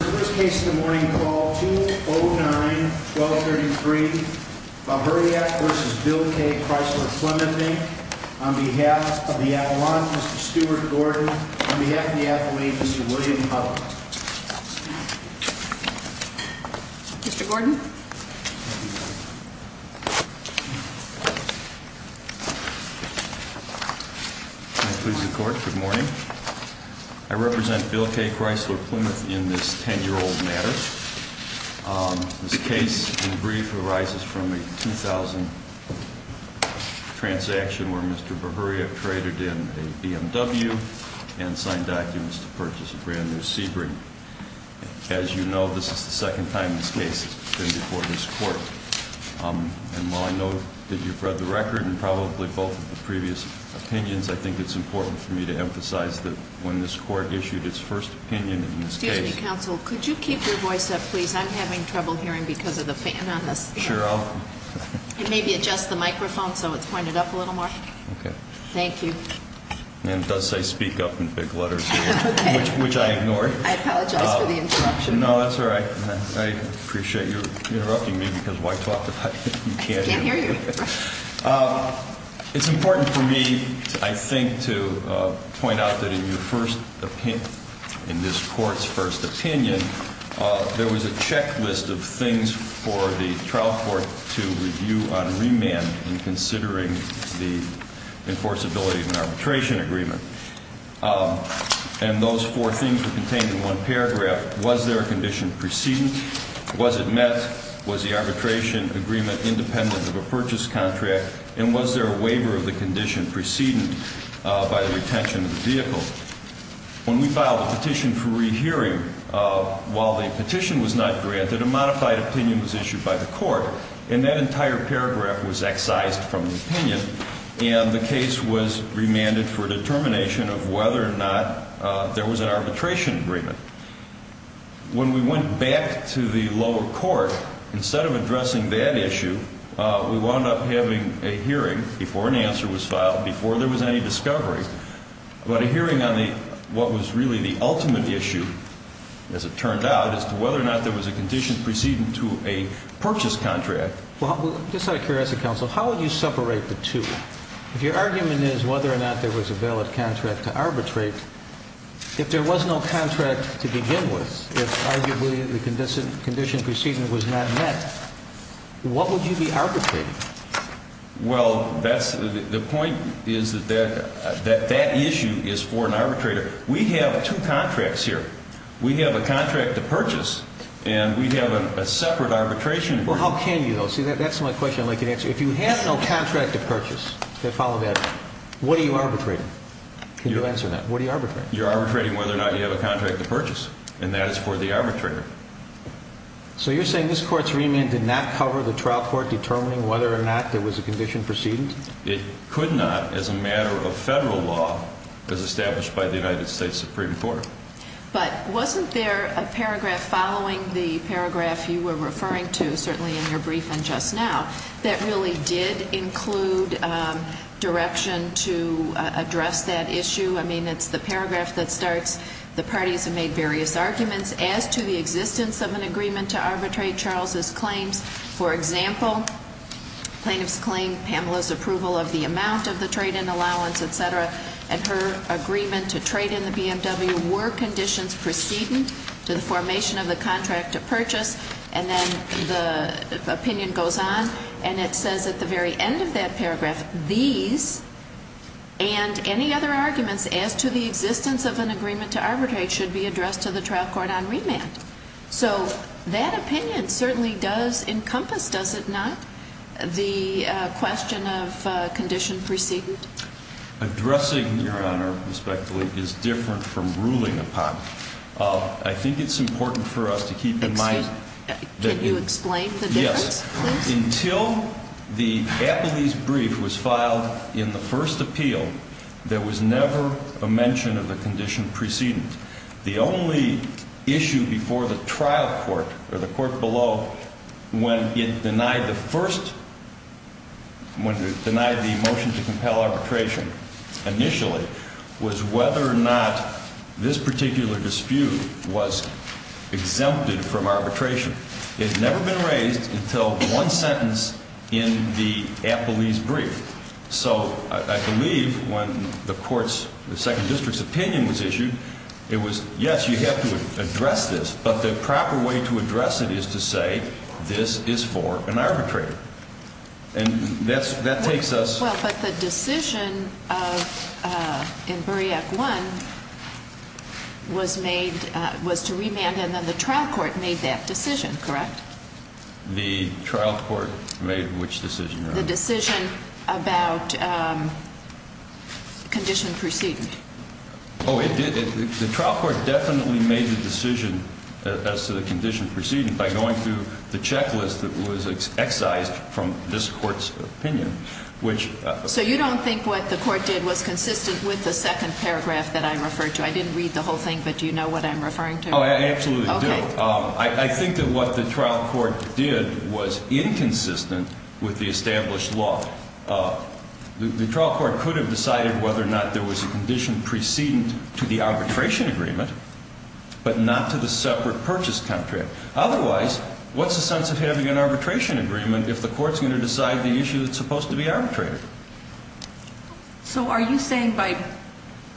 The first case of the morning, call 209-1233, Buhuriak v. Bill Kay Chrysler Plymouth, on behalf of the Avalon, Mr. Stuart Gordon, on behalf of the athlete, Mr. William Huddle. Mr. Gordon? May it please the Court, good morning. I represent Bill Kay Chrysler Plymouth in this 10-year-old matter. This case, in brief, arises from a 2000 transaction where Mr. Buhuriak traded in a BMW and signed documents to purchase a brand new Sebring. As you know, this is the second time this case has been before this Court. And while I know that you've read the record and probably both of the previous opinions, I think it's important for me to emphasize that when this Court issued its first opinion in this case... Excuse me, counsel, could you keep your voice up, please? I'm having trouble hearing because of the fan on this. Sure, I'll... Maybe adjust the microphone so it's pointed up a little more. Okay. Thank you. And it does say speak up in big letters here, which I ignored. I apologize for the interruption. No, that's all right. I appreciate your interrupting me because of all I talked about. I can't hear you. It's important for me, I think, to point out that in your first opinion, in this Court's first opinion, there was a checklist of things for the trial court to review on remand in considering the enforceability of an arbitration agreement. And those four things were contained in one paragraph. Was there a condition preceding? Was it met? Was the arbitration agreement independent of a purchase contract? And was there a waiver of the condition preceding by the retention of the vehicle? When we filed a petition for rehearing, while the petition was not granted, a modified opinion was issued by the Court, and that entire paragraph was excised from the opinion, and the case was remanded for determination of whether or not there was an arbitration agreement. When we went back to the lower court, instead of addressing that issue, we wound up having a hearing before an answer was filed, before there was any discovery, about a hearing on what was really the ultimate issue, as it turned out, as to whether or not there was a condition preceding to a purchase contract. Well, just out of curiosity, Counsel, how would you separate the two? If your argument is whether or not there was a valid contract to arbitrate, if there was no contract to begin with, if arguably the condition preceding was not met, what would you be arbitrating? Well, the point is that that issue is for an arbitrator. We have two contracts here. We have a contract to purchase, and we have a separate arbitration agreement. Well, how can you, though? See, that's my question I'd like you to answer. If you have no contract to purchase, to follow that, what are you arbitrating? Can you answer that? What are you arbitrating? You're arbitrating whether or not you have a contract to purchase, and that is for the arbitrator. So you're saying this Court's remand did not cover the trial court determining whether or not there was a condition preceding? It could not, as a matter of federal law, as established by the United States Supreme Court. But wasn't there a paragraph following the paragraph you were referring to, certainly in your briefing just now, that really did include direction to address that issue? I mean, it's the paragraph that starts, the parties have made various arguments as to the existence of an agreement to arbitrate Charles's claims. For example, plaintiff's claim, Pamela's approval of the amount of the trade-in allowance, et cetera, and her agreement to trade in the BMW were conditions preceding to the formation of the contract to purchase. And then the opinion goes on, and it says at the very end of that paragraph, these and any other arguments as to the existence of an agreement to arbitrate should be addressed to the trial court on remand. So that opinion certainly does encompass, does it not, the question of condition preceding? Addressing, Your Honor, respectfully, is different from ruling upon it. I think it's important for us to keep in mind that... Can you explain the difference, please? Yes. Until the Appellee's brief was filed in the first appeal, there was never a mention of the condition preceding. The only issue before the trial court, or the court below, when it denied the first, when it denied the motion to compel arbitration initially, was whether or not this particular dispute was exempted from arbitration. It had never been raised until one sentence in the Appellee's brief. So I believe when the court's, the Second District's opinion was issued, it was, yes, you have to address this, but the proper way to address it is to say, this is for an arbitrator. And that takes us... Well, but the decision in Bureak 1 was made, was to remand, and then the trial court made that decision, correct? The trial court made which decision, Your Honor? The decision about condition preceding. Oh, it did. The trial court definitely made the decision as to the condition preceding by going through the checklist that was excised from this court's opinion, which... So you don't think what the court did was consistent with the second paragraph that I referred to? I didn't read the whole thing, but do you know what I'm referring to? Oh, I absolutely do. I think that what the trial court did was inconsistent with the established law. The trial court could have decided whether or not there was a condition preceding to the arbitration agreement, but not to the separate purchase contract. Otherwise, what's the sense of having an arbitration agreement if the court's going to decide the issue that's supposed to be arbitrated? So are you saying by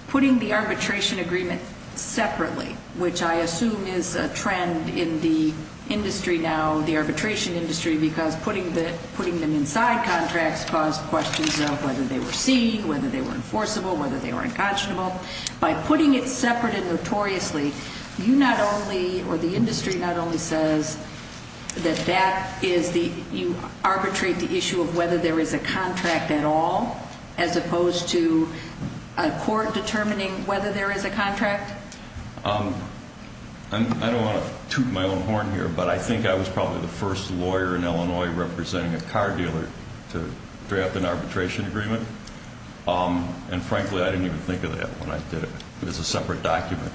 putting the arbitration agreement separately, which I assume is a trend in the industry now, the arbitration industry, because putting them inside contracts caused questions of whether they were seen, whether they were enforceable, whether they were unconscionable. By putting it separate and notoriously, you not only, or the industry not only says that you arbitrate the issue of whether there is a contract at all, as opposed to a court determining whether there is a contract? I don't want to toot my own horn here, but I think I was probably the first lawyer in Illinois representing a car dealer to draft an arbitration agreement. And frankly, I didn't even think of that when I did it. It was a separate document.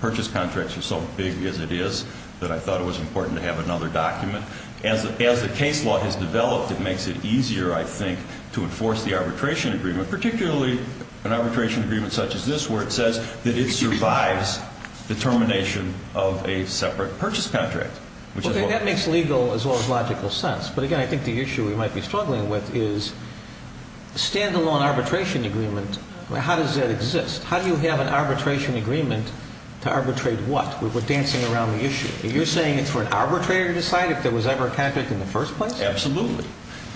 Purchase contracts are so big as it is that I thought it was important to have another document. As the case law has developed, it makes it easier, I think, to enforce the arbitration agreement, particularly an arbitration agreement such as this where it says that it survives the termination of a separate purchase contract. Okay, that makes legal as well as logical sense. But again, I think the issue we might be struggling with is a stand-alone arbitration agreement, how does that exist? How do you have an arbitration agreement to arbitrate what? We're dancing around the issue. Are you saying it's for an arbitrator to decide if there was ever a contract in the first place? Absolutely.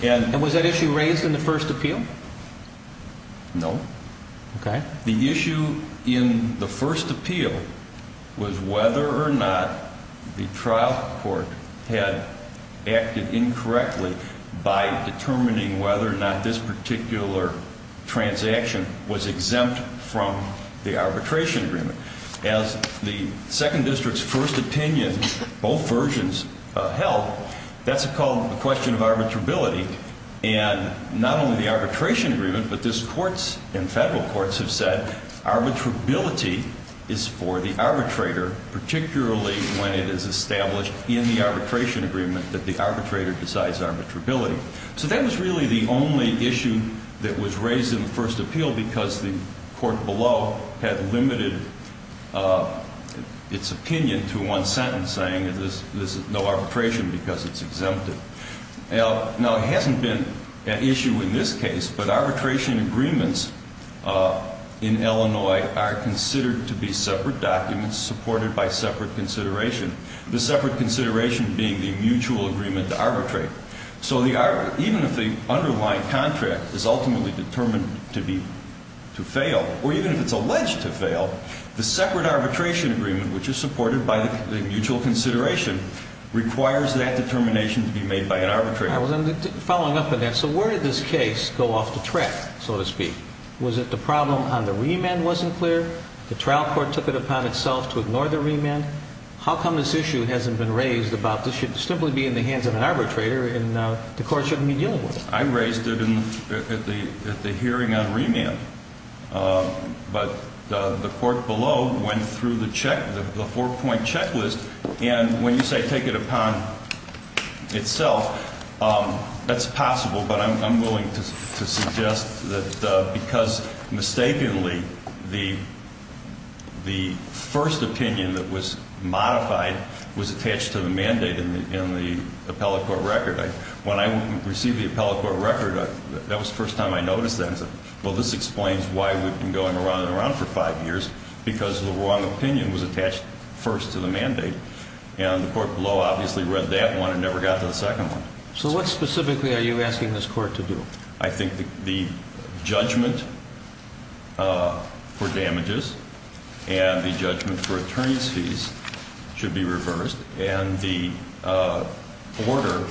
And was that issue raised in the first appeal? No. Okay. The issue in the first appeal was whether or not the trial court had acted incorrectly by determining whether or not this particular transaction was exempt from the arbitration agreement. As the second district's first opinion, both versions held, that's called the question of arbitrability. And not only the arbitration agreement, but this courts and federal courts have said arbitrability is for the arbitrator, particularly when it is established in the arbitration agreement that the arbitrator decides arbitrability. So that was really the only issue that was raised in the first appeal because the court below had limited its opinion to one sentence saying there's no arbitration because it's exempted. Now, it hasn't been an issue in this case, but arbitration agreements in Illinois are considered to be separate documents supported by separate consideration. The separate consideration being the mutual agreement to arbitrate. So even if the underlying contract is ultimately determined to fail, or even if it's alleged to fail, the separate arbitration agreement, which is supported by the mutual consideration, requires that determination to be made by an arbitrator. I was following up on that. So where did this case go off the track, so to speak? Was it the problem on the remand wasn't clear? The trial court took it upon itself to ignore the remand? How come this issue hasn't been raised about this should simply be in the hands of an arbitrator and the court shouldn't be dealing with it? I raised it at the hearing on remand, but the court below went through the check, the four-point checklist, and when you say take it upon itself, that's possible, but I'm willing to suggest that because mistakenly the first opinion that was modified was attached to the mandate in the appellate court record. When I received the appellate court record, that was the first time I noticed that. I said, well, this explains why we've been going around and around for five years, because the wrong opinion was attached first to the mandate, and the court below obviously read that one and never got to the second one. So what specifically are you asking this court to do? I think the judgment for damages and the judgment for attorney's fees should be reversed, and the order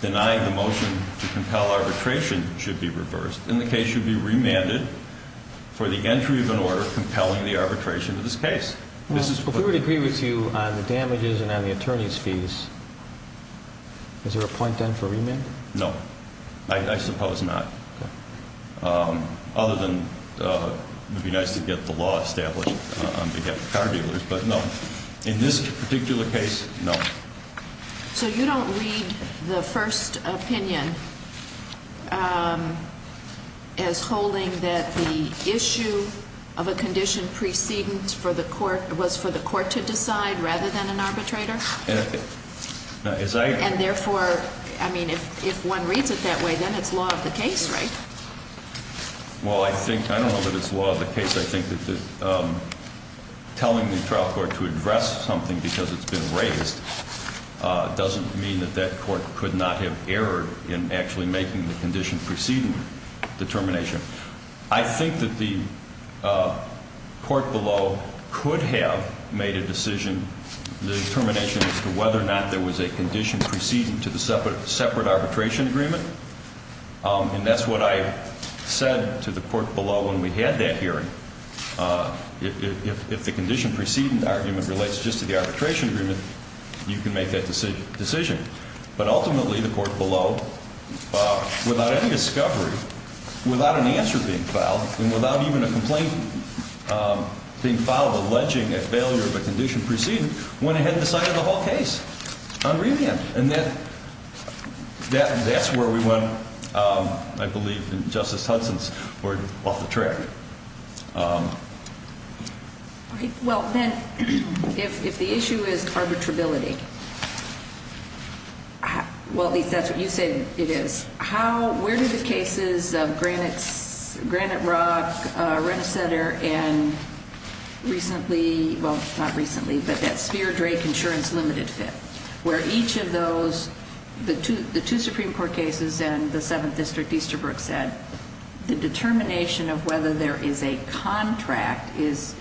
denying the motion to compel arbitration should be reversed, and the case should be remanded for the entry of an order compelling the arbitration of this case. If we were to agree with you on the damages and on the attorney's fees, is there a point then for remand? No, I suppose not, other than it would be nice to get the law established on behalf of car dealers, but no. In this particular case, no. So you don't read the first opinion as holding that the issue of a condition precedence was for the court to decide rather than an arbitrator? And therefore, I mean, if one reads it that way, then it's law of the case, right? Well, I don't know that it's law of the case. I think that telling the trial court to address something because it's been raised doesn't mean that that court could not have erred in actually making the condition preceding the termination. I think that the court below could have made a decision, the termination as to whether or not there was a condition preceding to the separate arbitration agreement. And that's what I said to the court below when we had that hearing. If the condition preceding the argument relates just to the arbitration agreement, you can make that decision. But ultimately, the court below, without any discovery, without an answer being filed, and without even a complaint being filed alleging a failure of a condition preceding, went ahead and decided the whole case on remand. And that's where we went, I believe, in Justice Hudson's word, off the track. All right, well, then, if the issue is arbitrability, well, at least that's what you say it is, where do the cases of Granite Rock, Renishetter, and recently, well, not recently, but that Spear-Drake Insurance Limited fit? Where each of those, the two Supreme Court cases and the Seventh District Easterbrook said, the determination of whether there is a contract is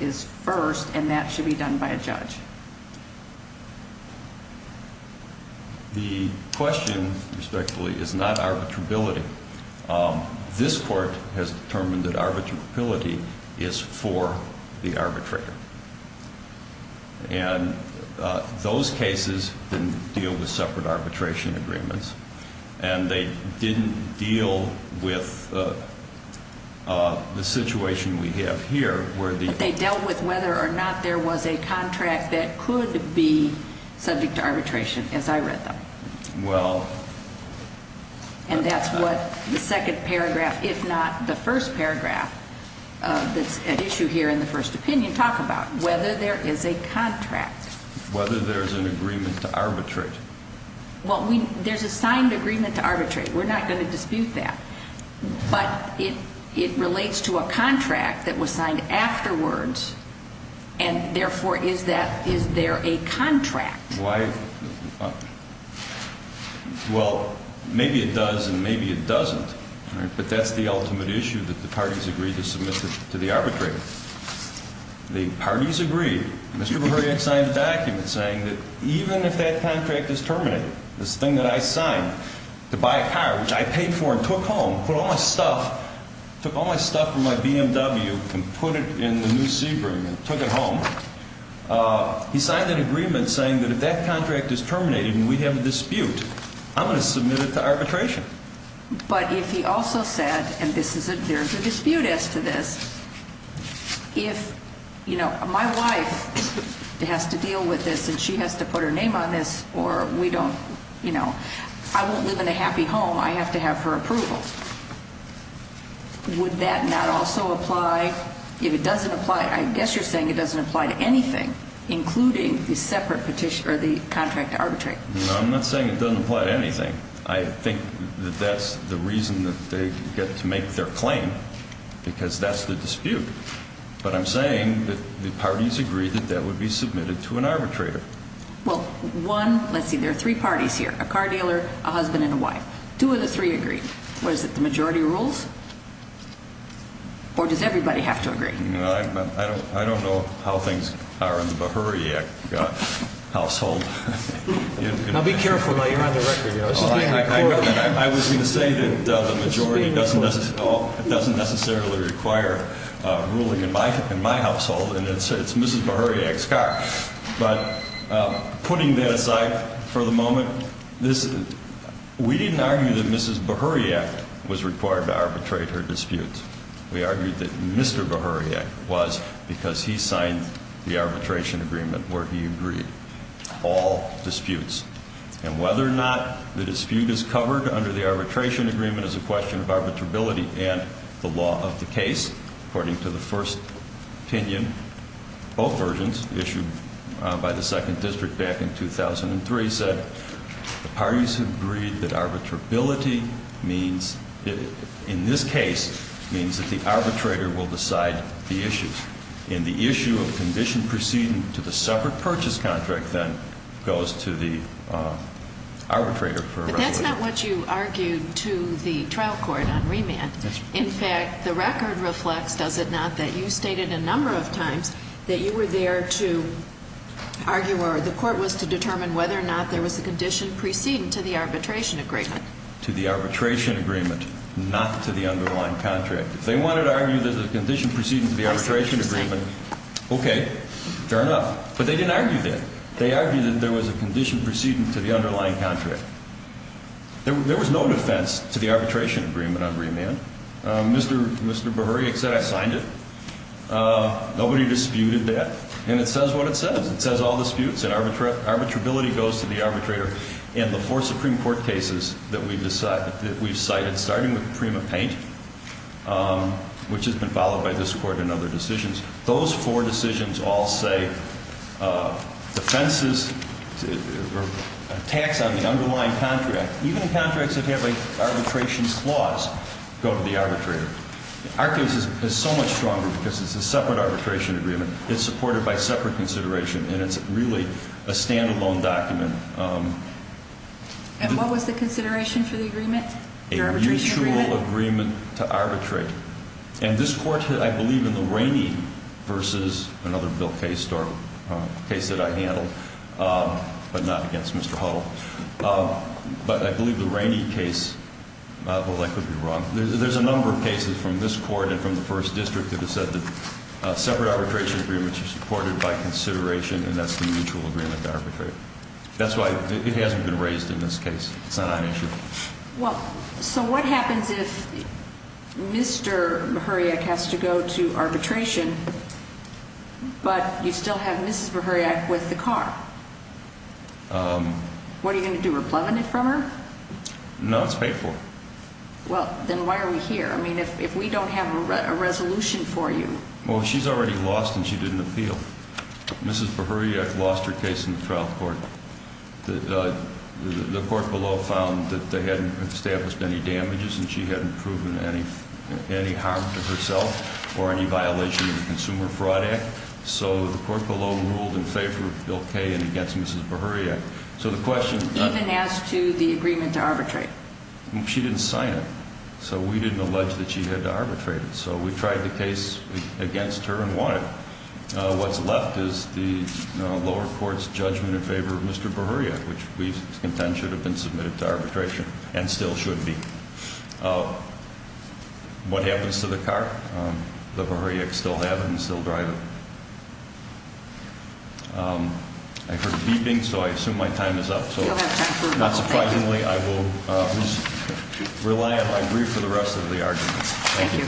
first, and that should be done by a judge. The question, respectfully, is not arbitrability. This court has determined that arbitrability is for the arbitrator. And those cases didn't deal with separate arbitration agreements, and they didn't deal with the situation we have here, where the – But they dealt with whether or not there was a contract that could be subject to arbitration, as I read them. And that's what the second paragraph, if not the first paragraph, that's at issue here in the first opinion, talk about, whether there is a contract. Whether there's an agreement to arbitrate. Well, we – there's a signed agreement to arbitrate. We're not going to dispute that. But it relates to a contract that was signed afterwards, and therefore, is that – is there a contract? Why – well, maybe it does and maybe it doesn't. But that's the ultimate issue, that the parties agree to submit it to the arbitrator. The parties agree. Mr. Breuer had signed a document saying that even if that contract is terminated, this thing that I signed to buy a car, which I paid for and took home, put all my stuff – took all my stuff from my BMW and put it in the new Sebring and took it home. He signed that agreement saying that if that contract is terminated and we have a dispute, I'm going to submit it to arbitration. But if he also said – and this is a – there's a dispute as to this – if, you know, my wife has to deal with this and she has to put her name on this or we don't – you know, I won't live in a happy home. I have to have her approval. Would that not also apply? If it doesn't apply, I guess you're saying it doesn't apply to anything, including the separate petition – or the contract to arbitrate. No, I'm not saying it doesn't apply to anything. I think that that's the reason that they get to make their claim, because that's the dispute. But I'm saying that the parties agree that that would be submitted to an arbitrator. Well, one – let's see, there are three parties here, a car dealer, a husband, and a wife. Two of the three agree. What is it, the majority rules? Or does everybody have to agree? I don't know how things are in the Behuriak household. Now, be careful while you're on the record. I was going to say that the majority doesn't necessarily require ruling in my household, and it's Mrs. Behuriak's car. But putting that aside for the moment, we didn't argue that Mrs. Behuriak was required to arbitrate her disputes. We argued that Mr. Behuriak was because he signed the arbitration agreement where he agreed all disputes. And whether or not the dispute is covered under the arbitration agreement is a question of arbitrability. And the law of the case, according to the first opinion, both versions issued by the Second District back in 2003, said the parties agreed that arbitrability means – in this case, means that the arbitrator will decide the issues. And the issue of condition proceeding to the separate purchase contract, then, goes to the arbitrator. But that's not what you argued to the trial court on remand. In fact, the record reflects, does it not, that you stated a number of times that you were there to argue or the court was to determine whether or not there was a condition preceding to the arbitration agreement. To the arbitration agreement, not to the underlying contract. If they wanted to argue there's a condition preceding to the arbitration agreement, okay, fair enough. But they didn't argue that. They argued that there was a condition preceding to the underlying contract. There was no defense to the arbitration agreement on remand. Mr. Berhoriak said, I signed it. Nobody disputed that. And it says what it says. It says all disputes and arbitrability goes to the arbitrator. And the four Supreme Court cases that we've cited, starting with Prima Paint, which has been followed by this court and other decisions, those four decisions all say defenses or attacks on the underlying contract, even contracts that have an arbitration clause, go to the arbitrator. Our case is so much stronger because it's a separate arbitration agreement. It's supported by separate consideration. And it's really a standalone document. And what was the consideration for the agreement, the arbitration agreement? A mutual agreement to arbitrate. And this court, I believe, in the Rainey versus another Bill Case case that I handled, but not against Mr. Hull, but I believe the Rainey case, well, that could be wrong. There's a number of cases from this court and from the first district that have said that separate arbitration agreements are supported by consideration, and that's the mutual agreement to arbitrate. That's why it hasn't been raised in this case. It's not on issue. Well, so what happens if Mr. Mihuriak has to go to arbitration, but you still have Mrs. Mihuriak with the car? What are you going to do, replenish it from her? No, it's paid for. Well, then why are we here? I mean, if we don't have a resolution for you. Well, she's already lost and she didn't appeal. Mrs. Mihuriak lost her case in the trial court. The court below found that they hadn't established any damages and she hadn't proven any harm to herself or any violation of the Consumer Fraud Act. So the court below ruled in favor of Bill K and against Mrs. Mihuriak. Even as to the agreement to arbitrate? She didn't sign it, so we didn't allege that she had to arbitrate it. So we tried the case against her and won it. What's left is the lower court's judgment in favor of Mr. Mihuriak, which we contend should have been submitted to arbitration and still should be. What happens to the car? The Mihuriaks still have it and still drive it. I heard a beeping, so I assume my time is up. Not surprisingly, I will rely on my brief for the rest of the argument. Thank you.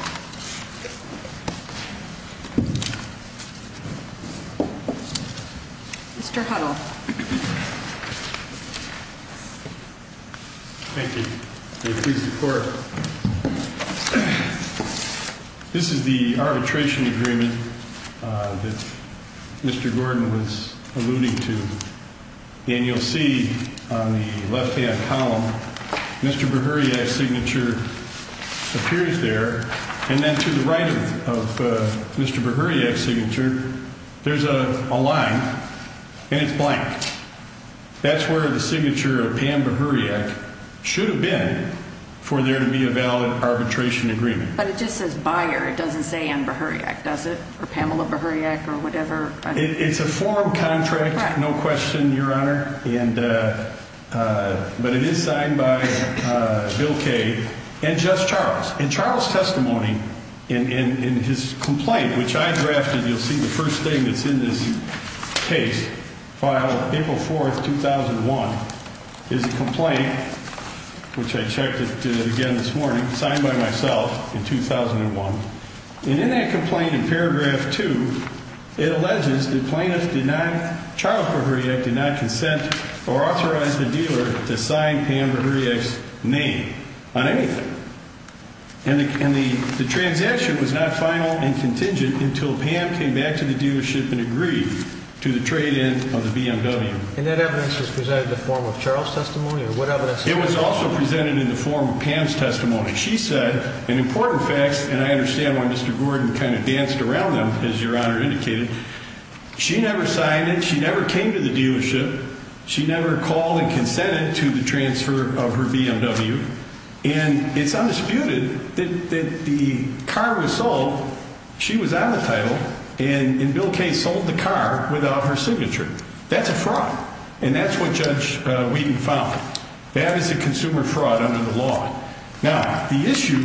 Mr. Huddle. Thank you. Please support. This is the arbitration agreement that Mr. Gordon was alluding to. And you'll see on the left-hand column, Mr. Mihuriak's signature appears there. And then to the right of Mr. Mihuriak's signature, there's a line and it's blank. That's where the signature of Pam Mihuriak should have been for there to be a valid arbitration agreement. But it just says buyer. It doesn't say Ann Mihuriak, does it? Or Pamela Mihuriak or whatever. It's a form contract. No question, Your Honor. But it is signed by Bill Kaye and Judge Charles. And Charles' testimony in his complaint, which I drafted, you'll see the first thing that's in this case, filed April 4th, 2001, is a complaint, which I checked it again this morning, signed by myself in 2001. And in that complaint in paragraph 2, it alleges that plaintiff did not, Charles Mihuriak, did not consent or authorize the dealer to sign Pam Mihuriak's name on anything. And the transaction was not final and contingent until Pam came back to the dealership and agreed to the trade-in of the BMW. And that evidence was presented in the form of Charles' testimony or what evidence? It was also presented in the form of Pam's testimony. She said an important fact, and I understand why Mr. Gordon kind of danced around them, as Your Honor indicated. She never signed it. She never came to the dealership. She never called and consented to the transfer of her BMW. And it's undisputed that the car was sold. She was on the title. And Bill Kaye sold the car without her signature. That's a fraud. And that's what Judge Wheaton found. That is a consumer fraud under the law. Now, the issue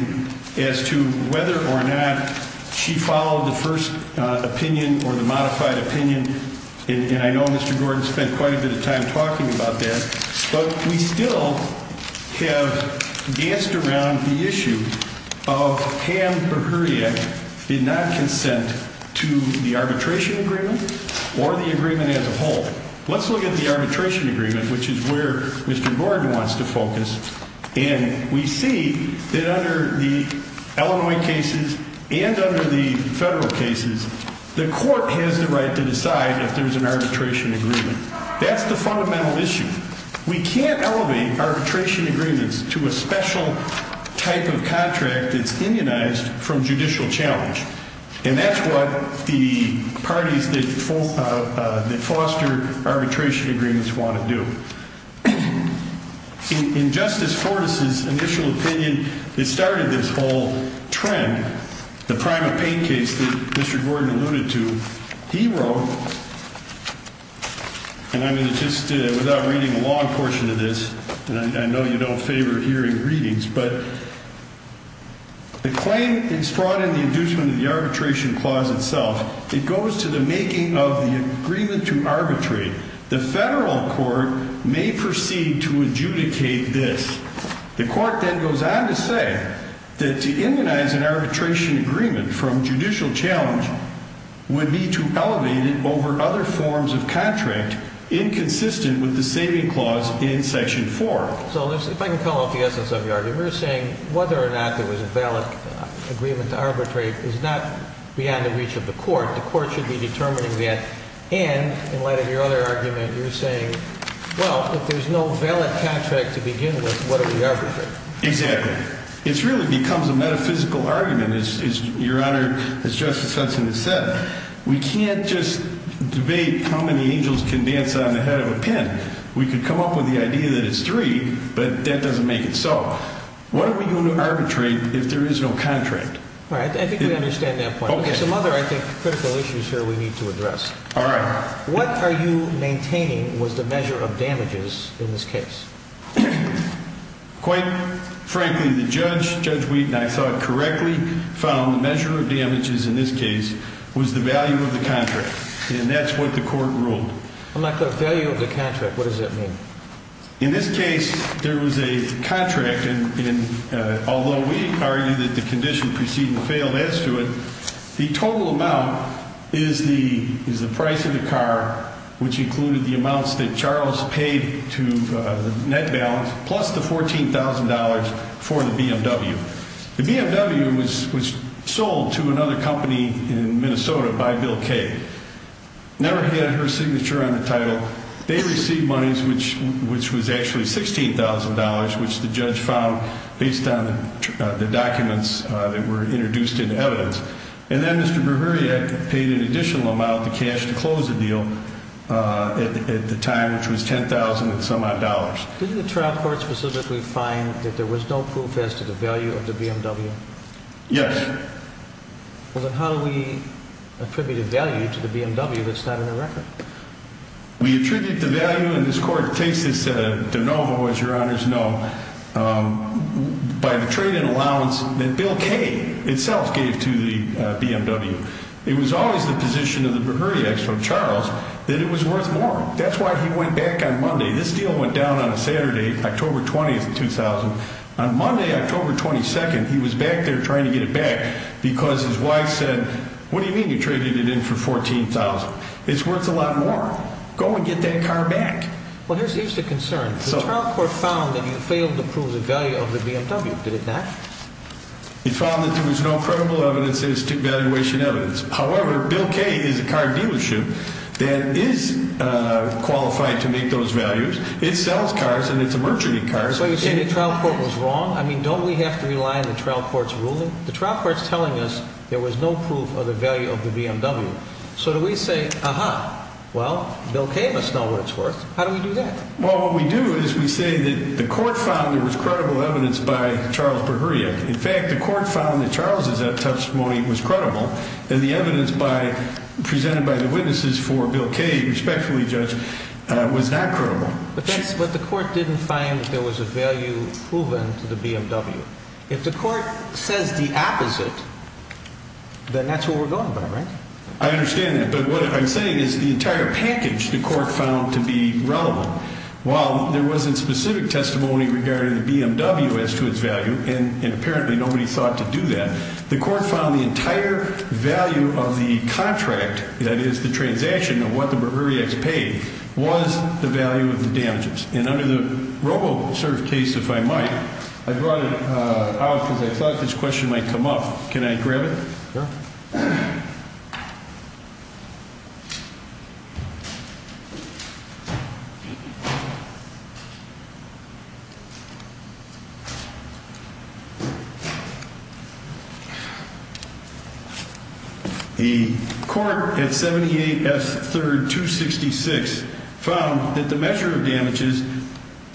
as to whether or not she followed the first opinion or the modified opinion, and I know Mr. Gordon spent quite a bit of time talking about that, but we still have danced around the issue of Pam Mihuriak did not consent to the arbitration agreement or the agreement as a whole. Let's look at the arbitration agreement, which is where Mr. Gordon wants to focus. And we see that under the Illinois cases and under the federal cases, the court has the right to decide if there's an arbitration agreement. That's the fundamental issue. We can't elevate arbitration agreements to a special type of contract that's indianized from judicial challenge. And that's what the parties that foster arbitration agreements want to do. In Justice Fortas' initial opinion that started this whole trend, the prime of pain case that Mr. Gordon alluded to, he wrote, and I'm going to just, without reading the long portion of this, and I know you don't favor hearing readings, but The claim is brought in the inducement of the arbitration clause itself. It goes to the making of the agreement to arbitrate. The federal court may proceed to adjudicate this. The court then goes on to say that to indianize an arbitration agreement from judicial challenge would be to elevate it over other forms of contract inconsistent with the saving clause in Section 4. So if I can come off the essence of your argument, you're saying whether or not there was a valid agreement to arbitrate is not beyond the reach of the court. The court should be determining that. And in light of your other argument, you're saying, well, if there's no valid contract to begin with, what are we arbitrating? Exactly. It really becomes a metaphysical argument. Your Honor, as Justice Hudson has said, we can't just debate how many angels can dance on the head of a pin. We could come up with the idea that it's three, but that doesn't make it so. What are we going to arbitrate if there is no contract? All right. I think we understand that point. There's some other, I think, critical issues here we need to address. All right. What are you maintaining was the measure of damages in this case? Quite frankly, the judge, Judge Wheaton, I thought correctly found the measure of damages in this case was the value of the contract, and that's what the court ruled. I'm not clear. Value of the contract, what does that mean? In this case, there was a contract, and although we argue that the condition preceding the fail adds to it, the total amount is the price of the car, which included the amounts that Charles paid to the net balance, plus the $14,000 for the BMW. The BMW was sold to another company in Minnesota by Bill Kaye. Never had her signature on the title. They received monies, which was actually $16,000, which the judge found based on the documents that were introduced into evidence. And then Mr. Breviriac paid an additional amount of cash to close the deal at the time, which was $10,000 and some odd dollars. Didn't the trial court specifically find that there was no proof as to the value of the BMW? Yes. Well, then how do we attribute a value to the BMW that's not in the record? We attribute the value, and this court takes this de novo, as your honors know, by the trade-in allowance that Bill Kaye itself gave to the BMW. It was always the position of the Breviriacs from Charles that it was worth more. That's why he went back on Monday. This deal went down on a Saturday, October 20th, 2000. On Monday, October 22nd, he was back there trying to get it back because his wife said, what do you mean you traded it in for $14,000? It's worth a lot more. Go and get that car back. Well, here's the concern. The trial court found that you failed to prove the value of the BMW. Did it not? It found that there was no credible evidence as to valuation evidence. However, Bill Kaye is a car dealership that is qualified to make those values. It sells cars, and it's a merchant of cars. So you're saying the trial court was wrong? I mean, don't we have to rely on the trial court's ruling? The trial court's telling us there was no proof of the value of the BMW. So do we say, aha, well, Bill Kaye must know what it's worth. How do we do that? Well, what we do is we say that the court found there was credible evidence by Charles Breviriac. In fact, the court found that Charles' testimony was credible, and the evidence presented by the witnesses for Bill Kaye, respectfully, Judge, was not credible. But the court didn't find that there was a value proven to the BMW. If the court says the opposite, then that's what we're going by, right? I understand that. But what I'm saying is the entire package the court found to be relevant. While there wasn't specific testimony regarding the BMW as to its value, and apparently nobody sought to do that, the court found the entire value of the contract, that is the transaction of what the Breviriacs paid, was the value of the damages. And under the Robocert case, if I might, I brought it out because I thought this question might come up. Can I grab it? Sure. The court at 78 S. 3rd 266 found that the measure of damages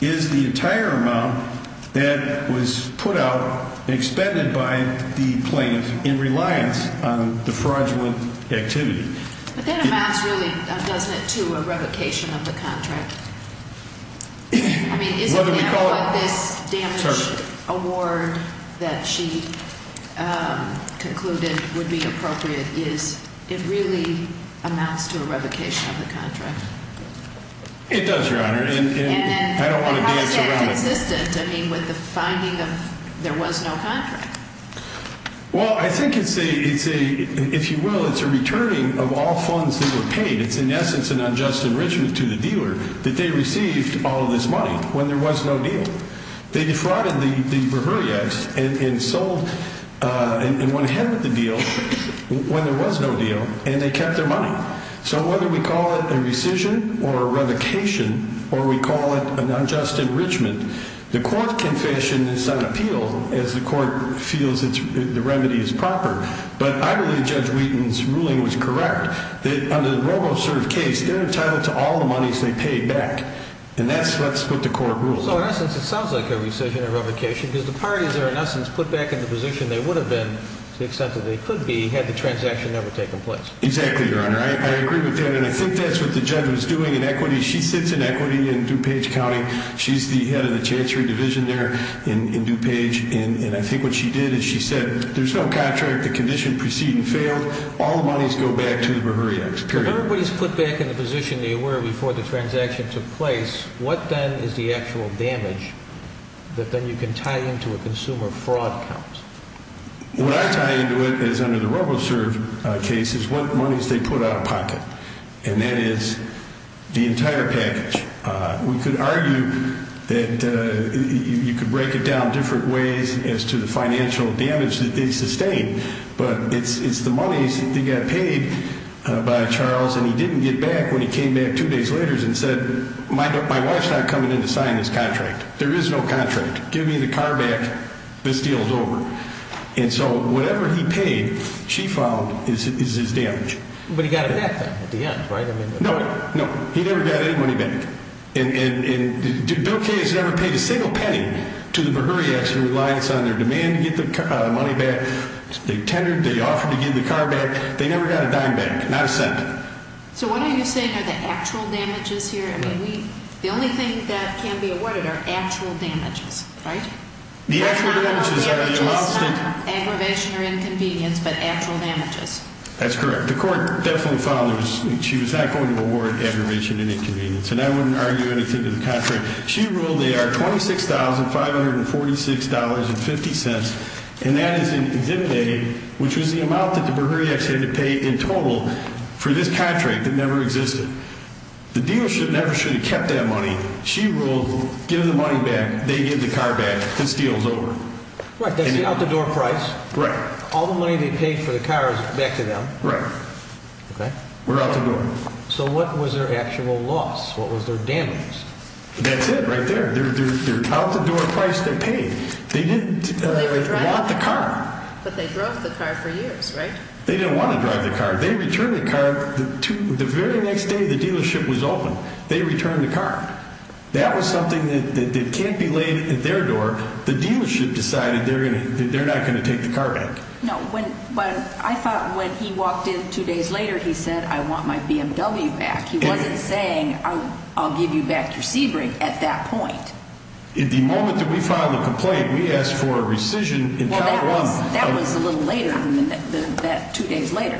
is the entire amount that was put out, expended by the plaintiff in reliance on the fraudulent activity. But that amounts really, doesn't it, to a revocation of the contract? I mean, isn't that what this damage award that she concluded would be appropriate is? It really amounts to a revocation of the contract. It does, Your Honor, and I don't want to dance around it. And how is that consistent, I mean, with the finding of there was no contract? Well, I think it's a, if you will, it's a returning of all funds that were paid. It's in essence an unjust enrichment to the dealer that they received all of this money when there was no deal. They defrauded the Breviriacs and sold and went ahead with the deal when there was no deal, and they kept their money. So whether we call it a rescission or a revocation or we call it an unjust enrichment, the court can fashion this on appeal as the court feels the remedy is proper. But I believe Judge Wheaton's ruling was correct. On the RoboServe case, they're entitled to all the monies they paid back, and that's what the court rules on. So in essence it sounds like a rescission or revocation because the parties are in essence put back in the position they would have been to the extent that they could be had the transaction never taken place. Exactly, Your Honor. I agree with that, and I think that's what the judge was doing in equity. She sits in equity in DuPage County. She's the head of the Chancery Division there in DuPage. And I think what she did is she said there's no contract, the condition preceded and failed, all the monies go back to the Breviriacs, period. If everybody's put back in the position they were before the transaction took place, what then is the actual damage that then you can tie into a consumer fraud count? What I tie into it is under the RoboServe case is what monies they put out of pocket, and that is the entire package. We could argue that you could break it down different ways as to the financial damage that they sustained, but it's the monies that got paid by Charles, and he didn't get back when he came back two days later and said my wife's not coming in to sign this contract. There is no contract. Give me the car back. This deal is over. And so whatever he paid, she found, is his damage. But he got it back then at the end, right? No, no. He never got any money back. And Bill Kay has never paid a single penny to the Breviriacs in reliance on their demand to get the money back. They tendered, they offered to give the car back. They never got a dime back, not a cent. So what are you saying are the actual damages here? I mean, the only thing that can be awarded are actual damages, right? The actual damages are the amounts that... Not aggravation or inconvenience, but actual damages. That's correct. The court definitely found that she was not going to award aggravation and inconvenience, and I wouldn't argue anything to the contract. She ruled they are $26,546.50, and that is in zip pay, which is the amount that the Breviriacs had to pay in total for this contract that never existed. The dealership never should have kept that money. She ruled giving the money back, they give the car back. This deal is over. Right, that's the out-the-door price. Right. All the money they paid for the car is back to them. Right. Okay. We're out the door. So what was their actual loss? What was their damage? That's it right there. They're out-the-door price they paid. They didn't want the car. But they drove the car for years, right? They didn't want to drive the car. They returned the car the very next day the dealership was open. They returned the car. That was something that can't be laid at their door. The dealership decided they're not going to take the car back. I thought when he walked in two days later, he said, I want my BMW back. He wasn't saying, I'll give you back your Sebring at that point. The moment that we filed a complaint, we asked for a rescission in kind of a lump. That was a little later than that, two days later.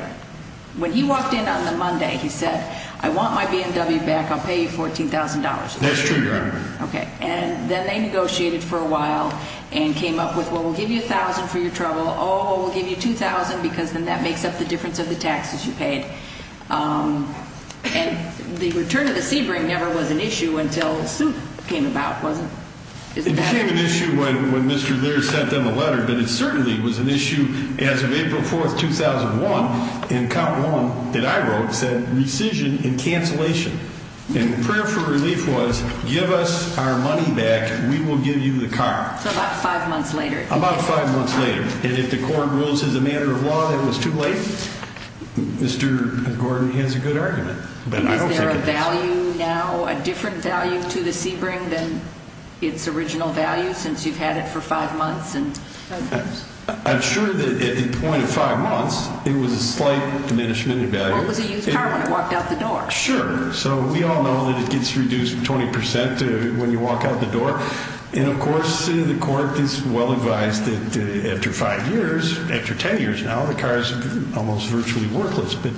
When he walked in on the Monday, he said, I want my BMW back. I'll pay you $14,000. That's true, Your Honor. Okay. And then they negotiated for a while and came up with, well, we'll give you $1,000 for your trouble. Oh, we'll give you $2,000 because then that makes up the difference of the taxes you paid. And the return of the Sebring never was an issue until the suit came about, wasn't it? It became an issue when Mr. Laird sent them a letter. But it certainly was an issue as of April 4, 2001. And Count Warren, that I wrote, said rescission and cancellation. And the prayer for relief was, give us our money back. We will give you the car. So about five months later. About five months later. And if the court rules as a matter of law that it was too late, Mr. Gordon has a good argument. But I don't think it is. Is there a value now, a different value to the Sebring than its original value since you've had it for five months? I'm sure that at the point of five months, it was a slight diminishment in value. Well, it was a used car when it walked out the door. Sure. So we all know that it gets reduced 20% when you walk out the door. And, of course, the court is well advised that after five years, after ten years now, the car is almost virtually worthless. But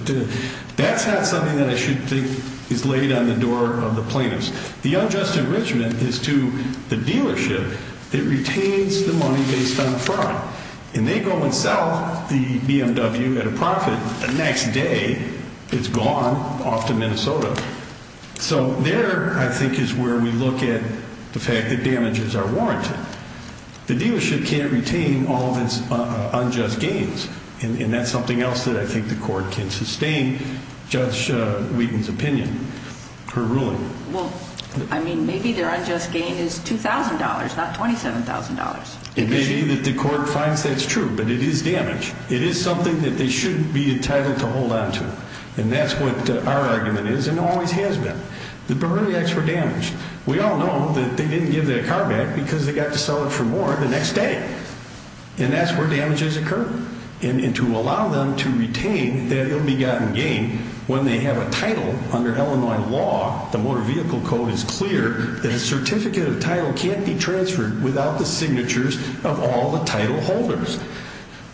that's not something that I should think is laid on the door of the plaintiffs. The unjust enrichment is to the dealership that retains the money based on fraud. And they go and sell the BMW at a profit. The next day, it's gone off to Minnesota. So there, I think, is where we look at the fact that damages are warranted. The dealership can't retain all of its unjust gains. And that's something else that I think the court can sustain, Judge Wheaton's opinion, her ruling. Well, I mean, maybe their unjust gain is $2,000, not $27,000. It may be that the court finds that's true, but it is damage. It is something that they shouldn't be entitled to hold on to. And that's what our argument is and always has been. The Borreliacs were damaged. We all know that they didn't give their car back because they got to sell it for more the next day. And that's where damages occur. And to allow them to retain that ill-begotten gain when they have a title under Illinois law, the Motor Vehicle Code is clear that a certificate of title can't be transferred without the signatures of all the title holders.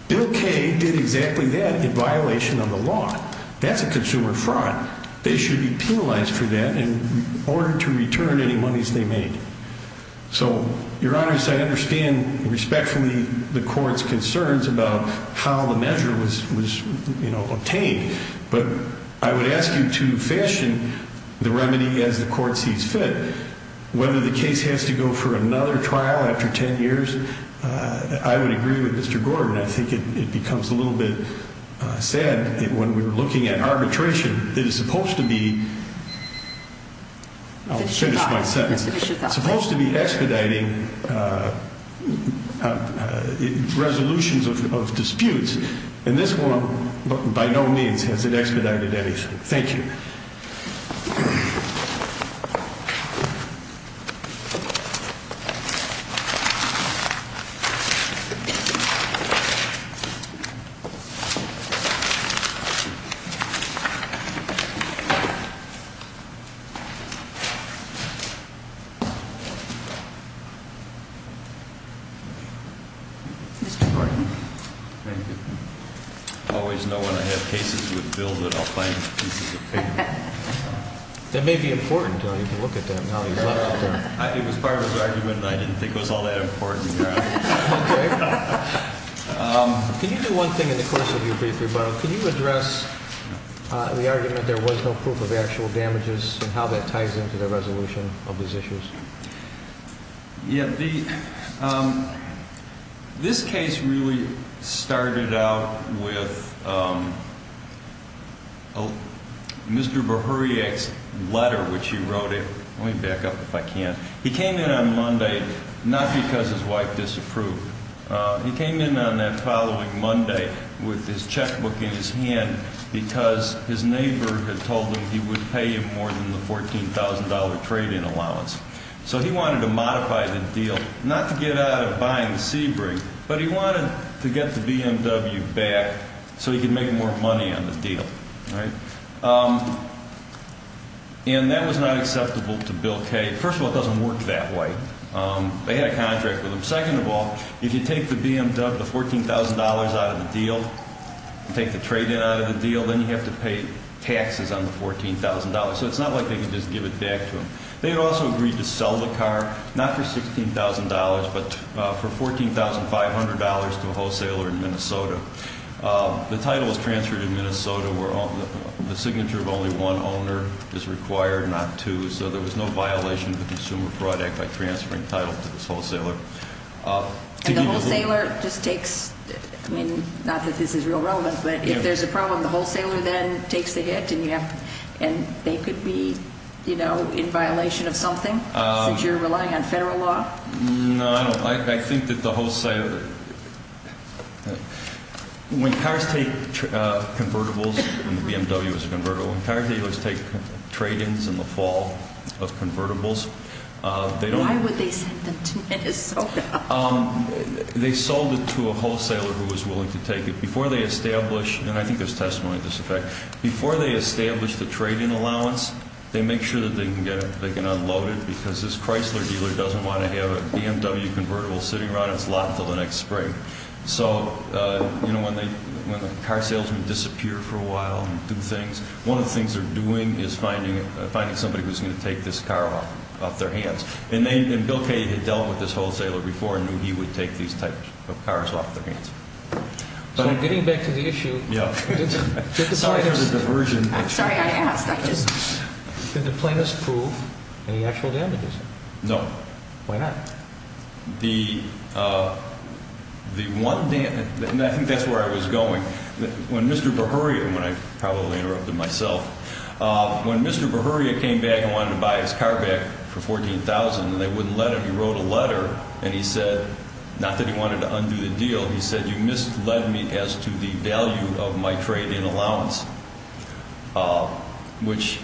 Bill Kaye did exactly that in violation of the law. That's a consumer fraud. They should be penalized for that in order to return any monies they made. So, Your Honors, I understand respectfully the court's concerns about how the measure was, you know, obtained. But I would ask you to fashion the remedy as the court sees fit. Whether the case has to go for another trial after 10 years, I would agree with Mr. Gordon. I think it becomes a little bit sad when we're looking at arbitration. It is supposed to be expediting resolutions of disputes. And this one, by no means, has it expedited anything. Thank you. Mr. Gordon. Thank you. I always know when I have cases with Bill that I'll find pieces of paper. That may be important. You can look at them now. It was part of his argument and I didn't think it was all that important. Okay. Can you do one thing in the course of your brief rebuttal? Can you address the argument there was no proof of actual damages and how that ties into the resolution of these issues? Yeah. This case really started out with Mr. Bihuriak's letter, which he wrote in. Let me back up if I can. He came in on Monday, not because his wife disapproved. He came in on that following Monday with his checkbook in his hand because his neighbor had told him he would pay him more than the $14,000 trade-in allowance. So he wanted to modify the deal, not to get out of buying the Sebring, but he wanted to get the BMW back so he could make more money on the deal. And that was not acceptable to Bill Kay. First of all, it doesn't work that way. They had a contract with him. Second of all, if you take the BMW, the $14,000 out of the deal, take the trade-in out of the deal, then you have to pay taxes on the $14,000. So it's not like they could just give it back to him. They had also agreed to sell the car, not for $16,000, but for $14,500 to a wholesaler in Minnesota. The title was transferred in Minnesota where the signature of only one owner is required, not two. So there was no violation of the Consumer Fraud Act by transferring title to this wholesaler. And the wholesaler just takes, I mean, not that this is real relevant, but if there's a problem, the wholesaler then takes the hit and they could be, you know, in violation of something since you're relying on federal law? No, I don't. I think that the wholesaler – when cars take convertibles, and the BMW is a convertible, when car dealers take trade-ins in the fall of convertibles, they don't – They sold it to a wholesaler who was willing to take it. Before they establish – and I think there's testimony to this effect – before they establish the trade-in allowance, they make sure that they can unload it because this Chrysler dealer doesn't want to have a BMW convertible sitting around its lot until the next spring. So, you know, when the car salesmen disappear for a while and do things, one of the things they're doing is finding somebody who's going to take this car off their hands. And Bill Kaye had dealt with this wholesaler before and knew he would take these types of cars off their hands. So getting back to the issue – Sorry for the diversion. I'm sorry I asked. Did the plaintiffs prove any actual damages? No. Why not? The one – and I think that's where I was going. When Mr. Berhoria – and I probably interrupted myself. When Mr. Berhoria came back and wanted to buy his car back for $14,000 and they wouldn't let him, he wrote a letter and he said – not that he wanted to undo the deal – he said, you misled me as to the value of my trade-in allowance. Which,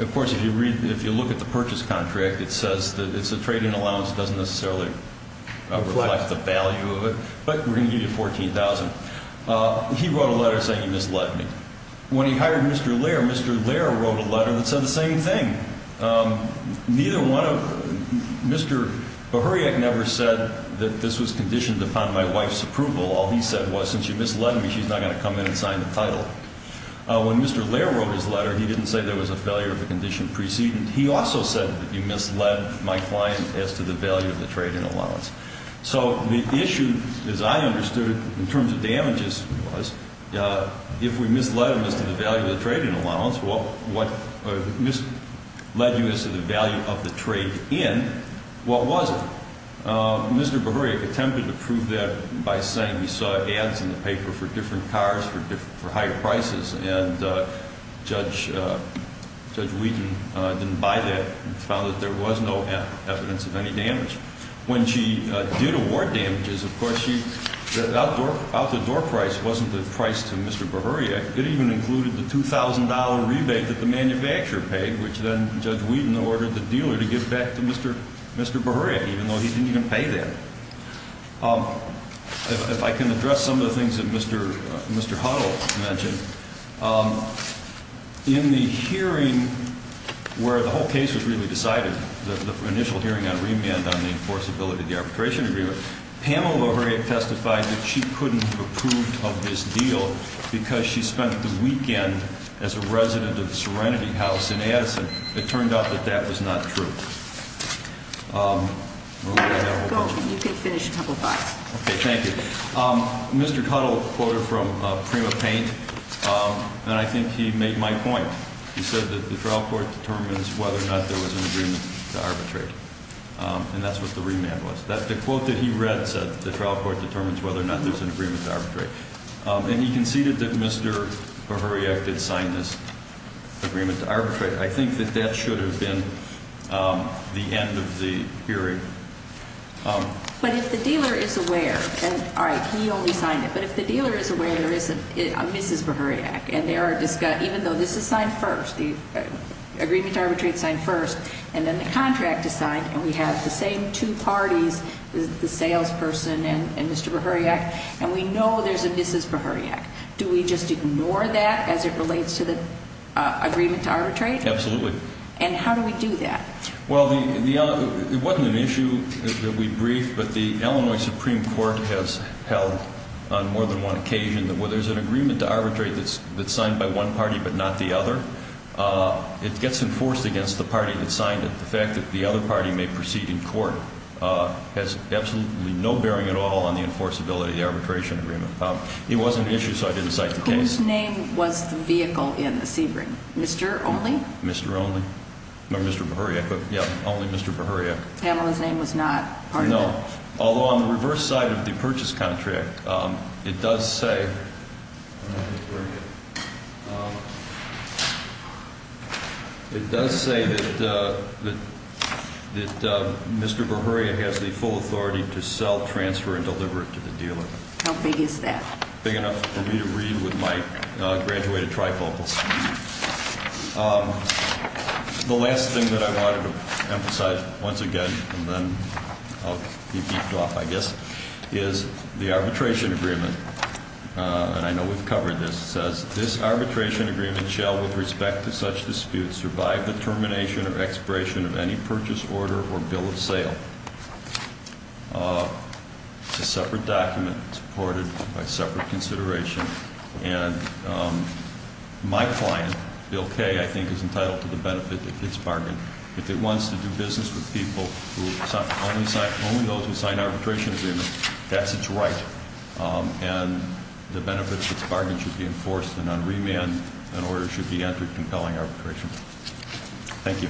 of course, if you look at the purchase contract, it says that it's a trade-in allowance. It doesn't necessarily reflect the value of it. But we're going to give you $14,000. He wrote a letter saying you misled me. When he hired Mr. Lehr, Mr. Lehr wrote a letter that said the same thing. Neither one of – Mr. Berhoria never said that this was conditioned upon my wife's approval. All he said was, since you misled me, she's not going to come in and sign the title. When Mr. Lehr wrote his letter, he didn't say there was a failure of the condition preceding. He also said that you misled my client as to the value of the trade-in allowance. So the issue, as I understood it, in terms of damages was, if we misled him as to the value of the trade-in allowance, what – misled you as to the value of the trade-in, what was it? Mr. Berhoria attempted to prove that by saying he saw ads in the paper for different cars for higher prices. And Judge Wheaton didn't buy that and found that there was no evidence of any damage. When she did award damages, of course, she – the out-the-door price wasn't the price to Mr. Berhoria. It even included the $2,000 rebate that the manufacturer paid, which then Judge Wheaton ordered the dealer to give back to Mr. Berhoria, even though he didn't even pay that. If I can address some of the things that Mr. Huttle mentioned, in the hearing where the whole case was really decided, the initial hearing on remand on the enforceability of the arbitration agreement, Pamela Berhoria testified that she couldn't have approved of this deal because she spent the weekend as a resident of the Serenity House in Addison. It turned out that that was not true. Go. You can finish a couple of thoughts. Okay. Thank you. Mr. Huttle quoted from Prima Paint, and I think he made my point. He said that the trial court determines whether or not there was an agreement to arbitrate. And that's what the remand was. The quote that he read said that the trial court determines whether or not there's an agreement to arbitrate. And he conceded that Mr. Berhoria did sign this agreement to arbitrate. I think that that should have been the end of the hearing. But if the dealer is aware, and all right, he only signed it, but if the dealer is aware there is a Mrs. Berhoria, and there are, even though this is signed first, the agreement to arbitrate is signed first, and then the contract is signed, and we have the same two parties, the salesperson and Mr. Berhoria, and we know there's a Mrs. Berhoria. Do we just ignore that as it relates to the agreement to arbitrate? Absolutely. And how do we do that? Well, it wasn't an issue that we briefed, but the Illinois Supreme Court has held on more than one occasion that where there's an agreement to arbitrate that's signed by one party but not the other, it gets enforced against the party that signed it. The fact that the other party may proceed in court has absolutely no bearing at all on the enforceability of the arbitration agreement. It wasn't an issue, so I didn't cite the case. Whose name was the vehicle in the Sebring? Mr. Only? Mr. Only. No, Mr. Berhoria. But, yeah, only Mr. Berhoria. Pamela's name was not part of it? No. Although on the reverse side of the purchase contract, it does say that Mr. Berhoria has the full authority to sell, transfer, and deliver it to the dealer. How big is that? Big enough for me to read with my graduated trifocals. The last thing that I wanted to emphasize, once again, and then I'll be beefed off, I guess, is the arbitration agreement. And I know we've covered this. It says, this arbitration agreement shall, with respect to such disputes, survive the termination or expiration of any purchase order or bill of sale. It's a separate document supported by separate consideration. And my client, Bill Kaye, I think, is entitled to the benefit of this bargain. If it wants to do business with people who only sign arbitration agreements, that's its right. And the benefit of this bargain should be enforced, and on remand, an order should be entered compelling arbitration. Thank you.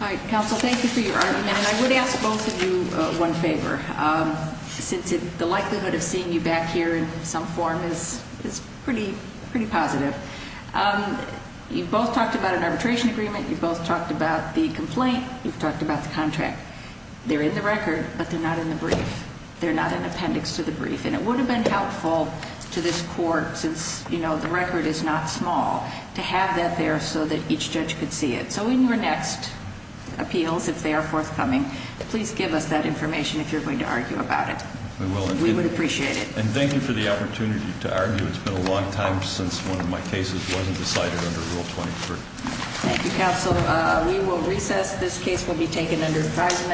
All right, counsel, thank you for your argument. And I would ask both of you one favor. Since the likelihood of seeing you back here in some form is pretty positive, you've both talked about an arbitration agreement. You've both talked about the complaint. You've talked about the contract. They're in the record, but they're not in the brief. They're not in appendix to the brief. And it would have been helpful to this court, since the record is not small, to have that there so that each judge could see it. So in your next appeals, if they are forthcoming, please give us that information if you're going to argue about it. We will. We would appreciate it. And thank you for the opportunity to argue. It's been a long time since one of my cases wasn't decided under Rule 23. Thank you, counsel. We will recess. This case will be taken under advisement.